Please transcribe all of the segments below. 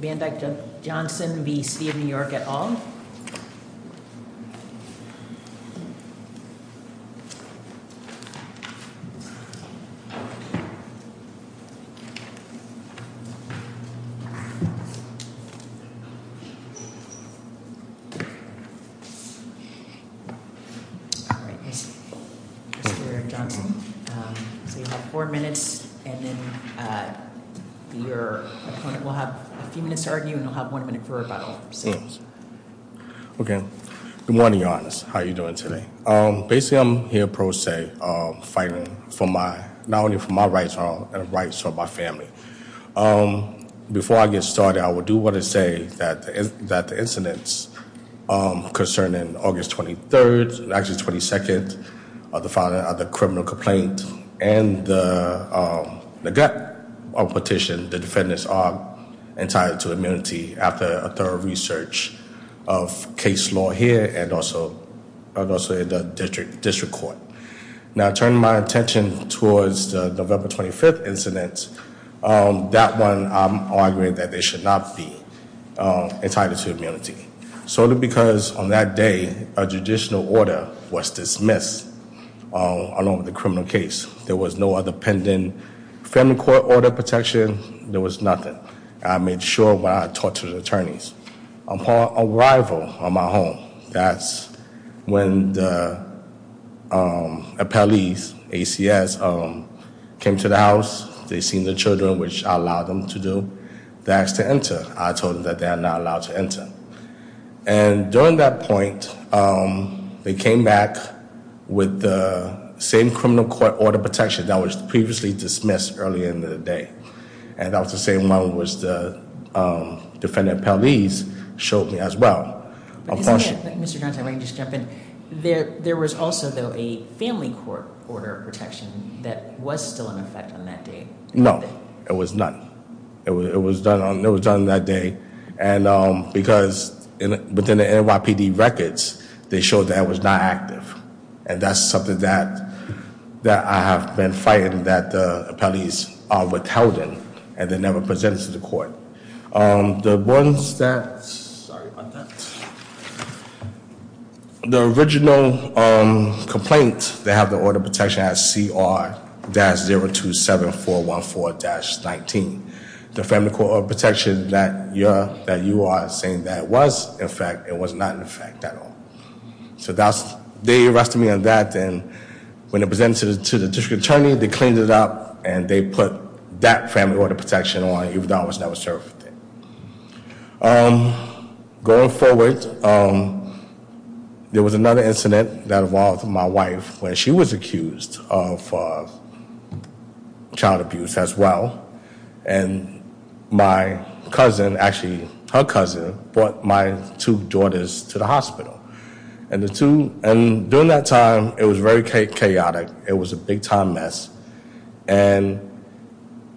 v. City of New York at all? Mr. Johnson. So you have four minutes, and then your opponent will have a few minutes to argue, and you'll have one minute for rebuttal. Okay. Good morning, Your Honor. How are you doing today? Basically, I'm here pro se, fighting not only for my rights, but for the rights of my family. Before I get started, I do want to say that the incidents concerning August 23rd, actually 22nd, the filing of the criminal complaint, and the petition, the defendants are entitled to immunity after a thorough research of case law here and also in the district court. Now, turning my attention towards the November 25th incident, that one, I'm arguing that they should not be entitled to immunity, solely because on that day, a judicial order was dismissed along with the criminal case. There was no other pending family court order protection. There was nothing. I made sure when I talked to the attorneys, upon arrival on my home, that's when the appellees, ACS, came to the house. They seen the children, which I allowed them to do. They asked to enter. I told them that they are not allowed to enter. And during that point, they came back with the same criminal court order protection that was previously dismissed early in the day. And that was the same one which the defendant appellees showed me as well. Mr. Johnson, if I can just jump in. There was also, though, a family court order of protection that was still in effect on that day. No, it was not. It was done on that day. And because within the NYPD records, they showed that it was not active. And that's something that I have been fighting that the appellees are withholding and they never presented to the court. The ones that, sorry about that. The original complaint, they have the order of protection as CR-027414-19. The family court order of protection that you are saying that it was in effect, it was not in effect at all. So that's, they arrested me on that. And when they presented it to the district attorney, they cleaned it up and they put that family order of protection on even though I was never served. Going forward, there was another incident that involved my wife when she was accused of child abuse as well. And my cousin, actually her cousin, brought my two daughters to the hospital. And during that time, it was very chaotic. It was a big time mess. And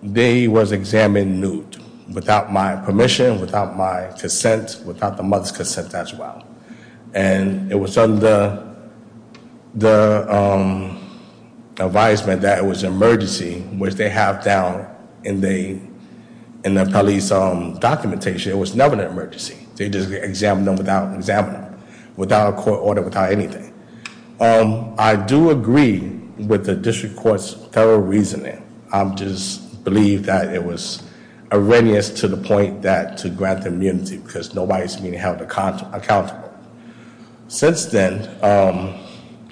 they was examined nude without my permission, without my consent, without the mother's consent as well. And it was under the advisement that it was an emergency, which they have down in the appellee's documentation. It was never an emergency. They just examined them without an examiner, without a court order, without anything. I do agree with the district court's thorough reasoning. I just believe that it was erroneous to the point that to grant immunity because nobody's being held accountable. Since then,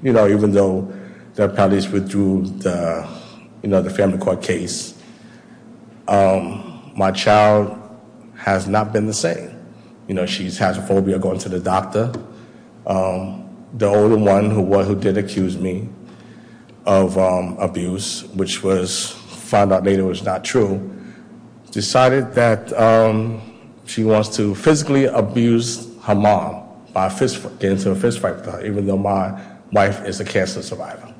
even though the appellees withdrew the family court case, my child has not been the same. She has a phobia of going to the doctor. The older one who did accuse me of abuse, which was found out later was not true, decided that she wants to physically abuse her mom by getting into a fist fight with her, even though my wife is a cancer survivor.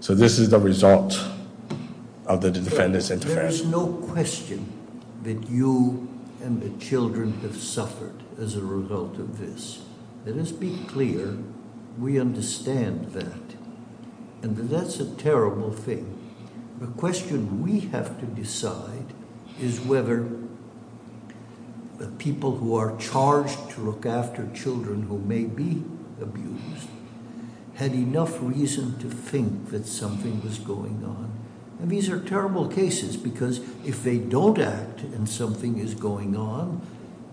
So this is the result of the defendant's interference. There is no question that you and the children have suffered as a result of this. Let us be clear. We understand that. And that's a terrible thing. The question we have to decide is whether the people who are charged to look after children who may be abused had enough reason to think that something was going on. And these are terrible cases because if they don't act and something is going on,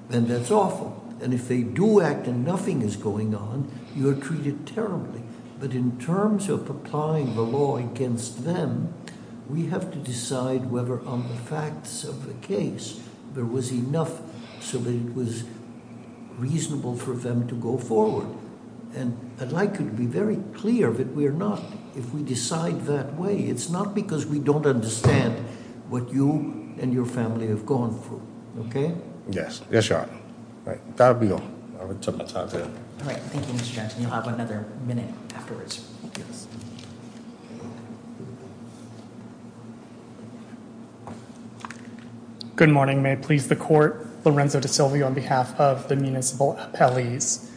then that's awful. And if they do act and nothing is going on, you're treated terribly. But in terms of applying the law against them, we have to decide whether on the facts of the case there was enough so that it was reasonable for them to go forward. And I'd like you to be very clear that we're not. If we decide that way, it's not because we don't understand what you and your family have gone through. OK. Yes. Yes, your honor. All right. Thank you, Mr. Johnson. You'll have another minute afterwards. Good morning. May it please the court. Lorenzo DeSilvio on behalf of the municipal appellees.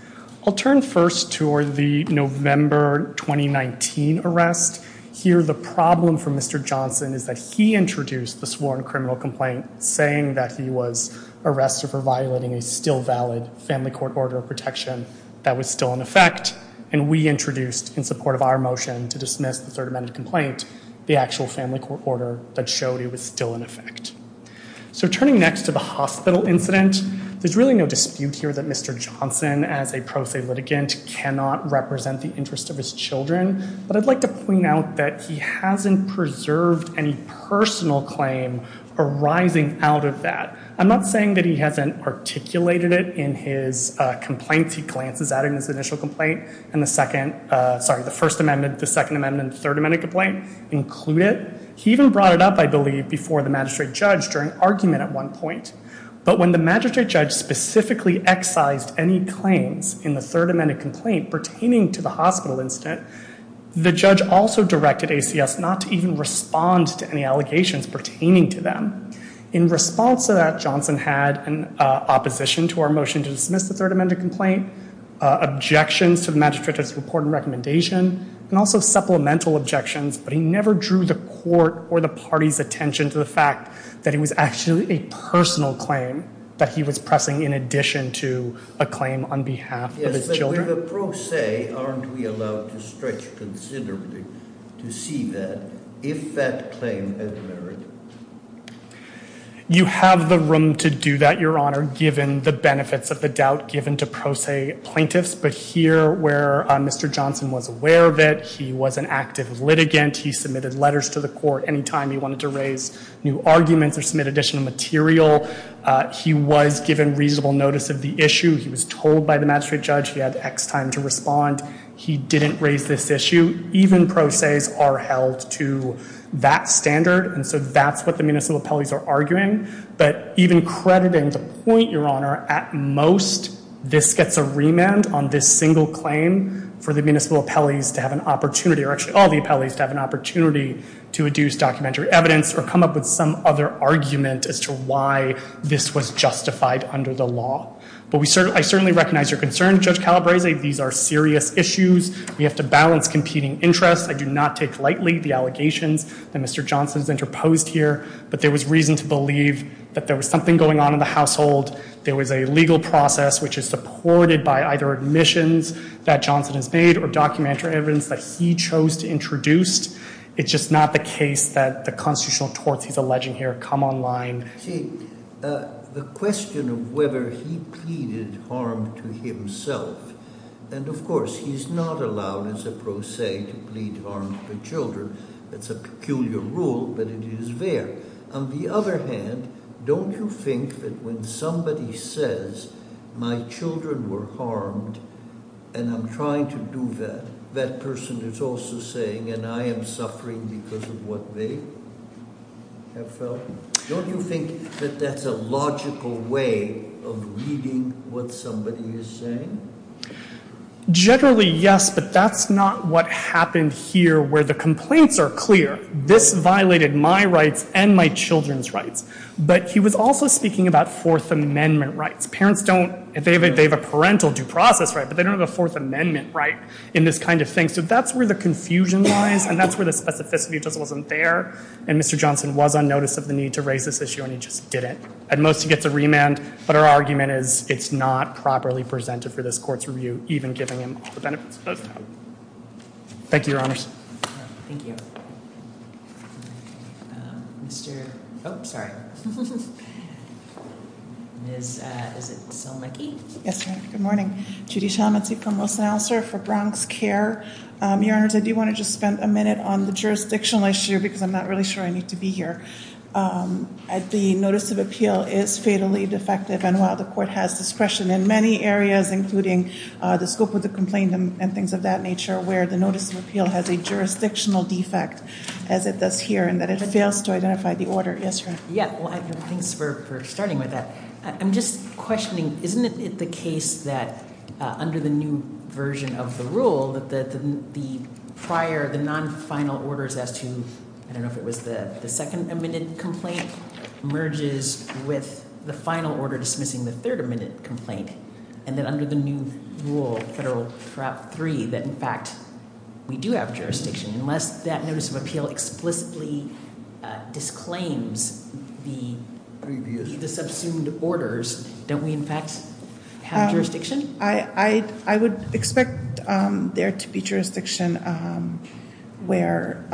I'll turn first to the November 2019 arrest here. The problem for Mr. Johnson is that he introduced the sworn criminal complaint saying that he was arrested for violating a still valid family court order of protection that was still in effect. And we introduced in support of our motion to dismiss the third amendment complaint, the actual family court order that showed it was still in effect. So turning next to the hospital incident, there's really no dispute here that Mr. Johnson, as a pro se litigant, cannot represent the interest of his children. But I'd like to point out that he hasn't preserved any personal claim arising out of that. I'm not saying that he hasn't articulated it in his complaints. He glances at it in his initial complaint and the second, sorry, the first amendment, the second amendment, third amendment complaint include it. He even brought it up, I believe, before the magistrate judge during argument at one point. But when the magistrate judge specifically excised any claims in the third amendment complaint pertaining to the hospital incident, the judge also directed ACS not to even respond to any allegations pertaining to them. In response to that, Johnson had an opposition to our motion to dismiss the third amendment complaint, objections to the magistrate judge's report and recommendation, and also supplemental objections. But he never drew the court or the party's attention to the fact that it was actually a personal claim that he was pressing in addition to a claim on behalf of his children. Under the pro se, aren't we allowed to stretch considerably to see that if that claim had merit? You have the room to do that, Your Honor, given the benefits of the doubt given to pro se plaintiffs. But here where Mr. Johnson was aware of it, he was an active litigant. He submitted letters to the court any time he wanted to raise new arguments or submit additional material. He was given reasonable notice of the issue. He was told by the magistrate judge he had X time to respond. He didn't raise this issue. Even pro ses are held to that standard, and so that's what the municipal appellees are arguing. But even crediting the point, Your Honor, at most this gets a remand on this single claim for the municipal appellees to have an opportunity, or actually all the appellees to have an opportunity to adduce documentary evidence or come up with some other argument as to why this was justified under the law. But I certainly recognize your concern, Judge Calabrese. These are serious issues. We have to balance competing interests. I do not take lightly the allegations that Mr. Johnson has interposed here, but there was reason to believe that there was something going on in the household. There was a legal process which is supported by either admissions that Johnson has made or documentary evidence that he chose to introduce. It's just not the case that the constitutional torts he's alleging here come online. See, the question of whether he pleaded harm to himself, and of course he's not allowed as a pro se to plead harm to children. That's a peculiar rule, but it is there. On the other hand, don't you think that when somebody says, my children were harmed and I'm trying to do that, that person is also saying, and I am suffering because of what they have felt? Don't you think that that's a logical way of reading what somebody is saying? Generally, yes, but that's not what happened here where the complaints are clear. This violated my rights and my children's rights. But he was also speaking about Fourth Amendment rights. Parents don't, they have a parental due process right, but they don't have a Fourth Amendment right in this kind of thing. So that's where the confusion lies and that's where the specificity just wasn't there and Mr. Johnson was on notice of the need to raise this issue and he just didn't. At most he gets a remand, but our argument is it's not properly presented for this court's review, even giving him all the benefits of that. Thank you, Your Honors. Thank you. Mr., oh, sorry. Ms., is it Selmicki? Yes, Your Honor, good morning. Judy Selmicki from Wilson-Ossar for Bronx Care. Your Honors, I do want to just spend a minute on the jurisdictional issue because I'm not really sure I need to be here. The notice of appeal is fatally defective and while the court has discretion in many areas, including the scope of the complaint and things of that nature, where the notice of appeal has a jurisdictional defect, as it does here, in that it fails to identify the order. Yes, Your Honor. Yeah, well, thanks for starting with that. I'm just questioning, isn't it the case that under the new version of the rule, that the prior, the non-final orders as to, I don't know if it was the second amended complaint, merges with the final order dismissing the third amended complaint, and then under the new rule, Federal Prop. 3, that in fact we do have jurisdiction, unless that notice of appeal explicitly disclaims the subsumed orders, don't we in fact have jurisdiction? I would expect there to be jurisdiction where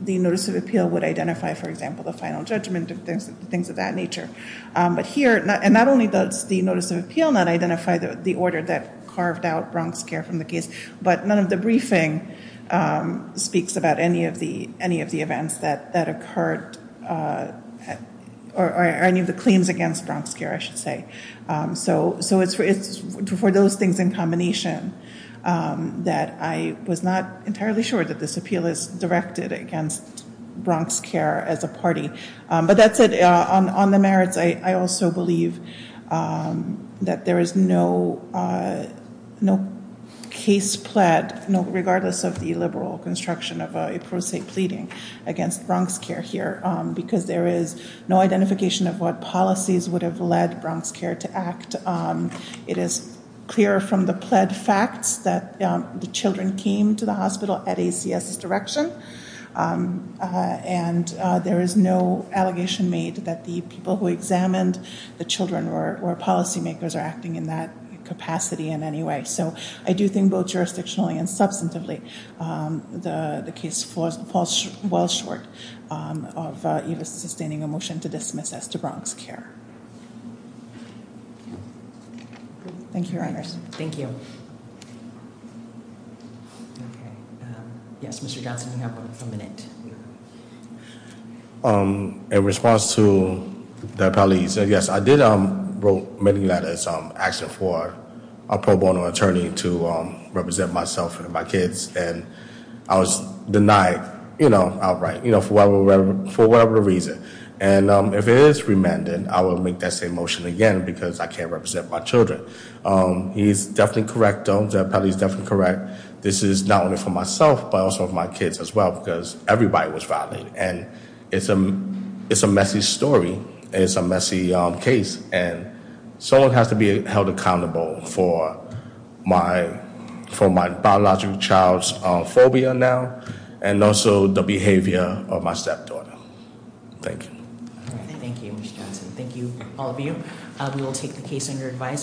the notice of appeal would identify, for example, the final judgment and things of that nature. But here, and not only does the notice of appeal not identify the order that carved out Bronx Care from the case, but none of the briefing speaks about any of the events that occurred, or any of the claims against Bronx Care, I should say. So it's for those things in combination that I was not entirely sure that this appeal is directed against Bronx Care as a party. But that's it. On the merits, I also believe that there is no case pled, regardless of the liberal construction of a pro se pleading against Bronx Care here, because there is no identification of what policies would have led Bronx Care to act. It is clear from the pled facts that the children came to the hospital at ACS's direction, and there is no allegation made that the people who examined the children were policymakers or acting in that capacity in any way. So I do think both jurisdictionally and substantively the case falls well short of sustaining a motion to dismiss as to Bronx Care. Thank you, Your Honors. Thank you. Okay. Yes, Mr. Johnson, you have a minute. In response to the apologies, yes, I did wrote many letters asking for a pro bono attorney to represent myself and my kids, and I was denied outright for whatever reason. And if it is remanded, I will make that same motion again because I can't represent my children. He is definitely correct, though. Jeff Pelley is definitely correct. This is not only for myself, but also for my kids as well, because everybody was violated. And it's a messy story. It's a messy case. And someone has to be held accountable for my biological child's phobia now, and also the behavior of my stepdaughter. Thank you. Thank you, Mr. Johnson. Thank you, all of you. We will take the case under advisement.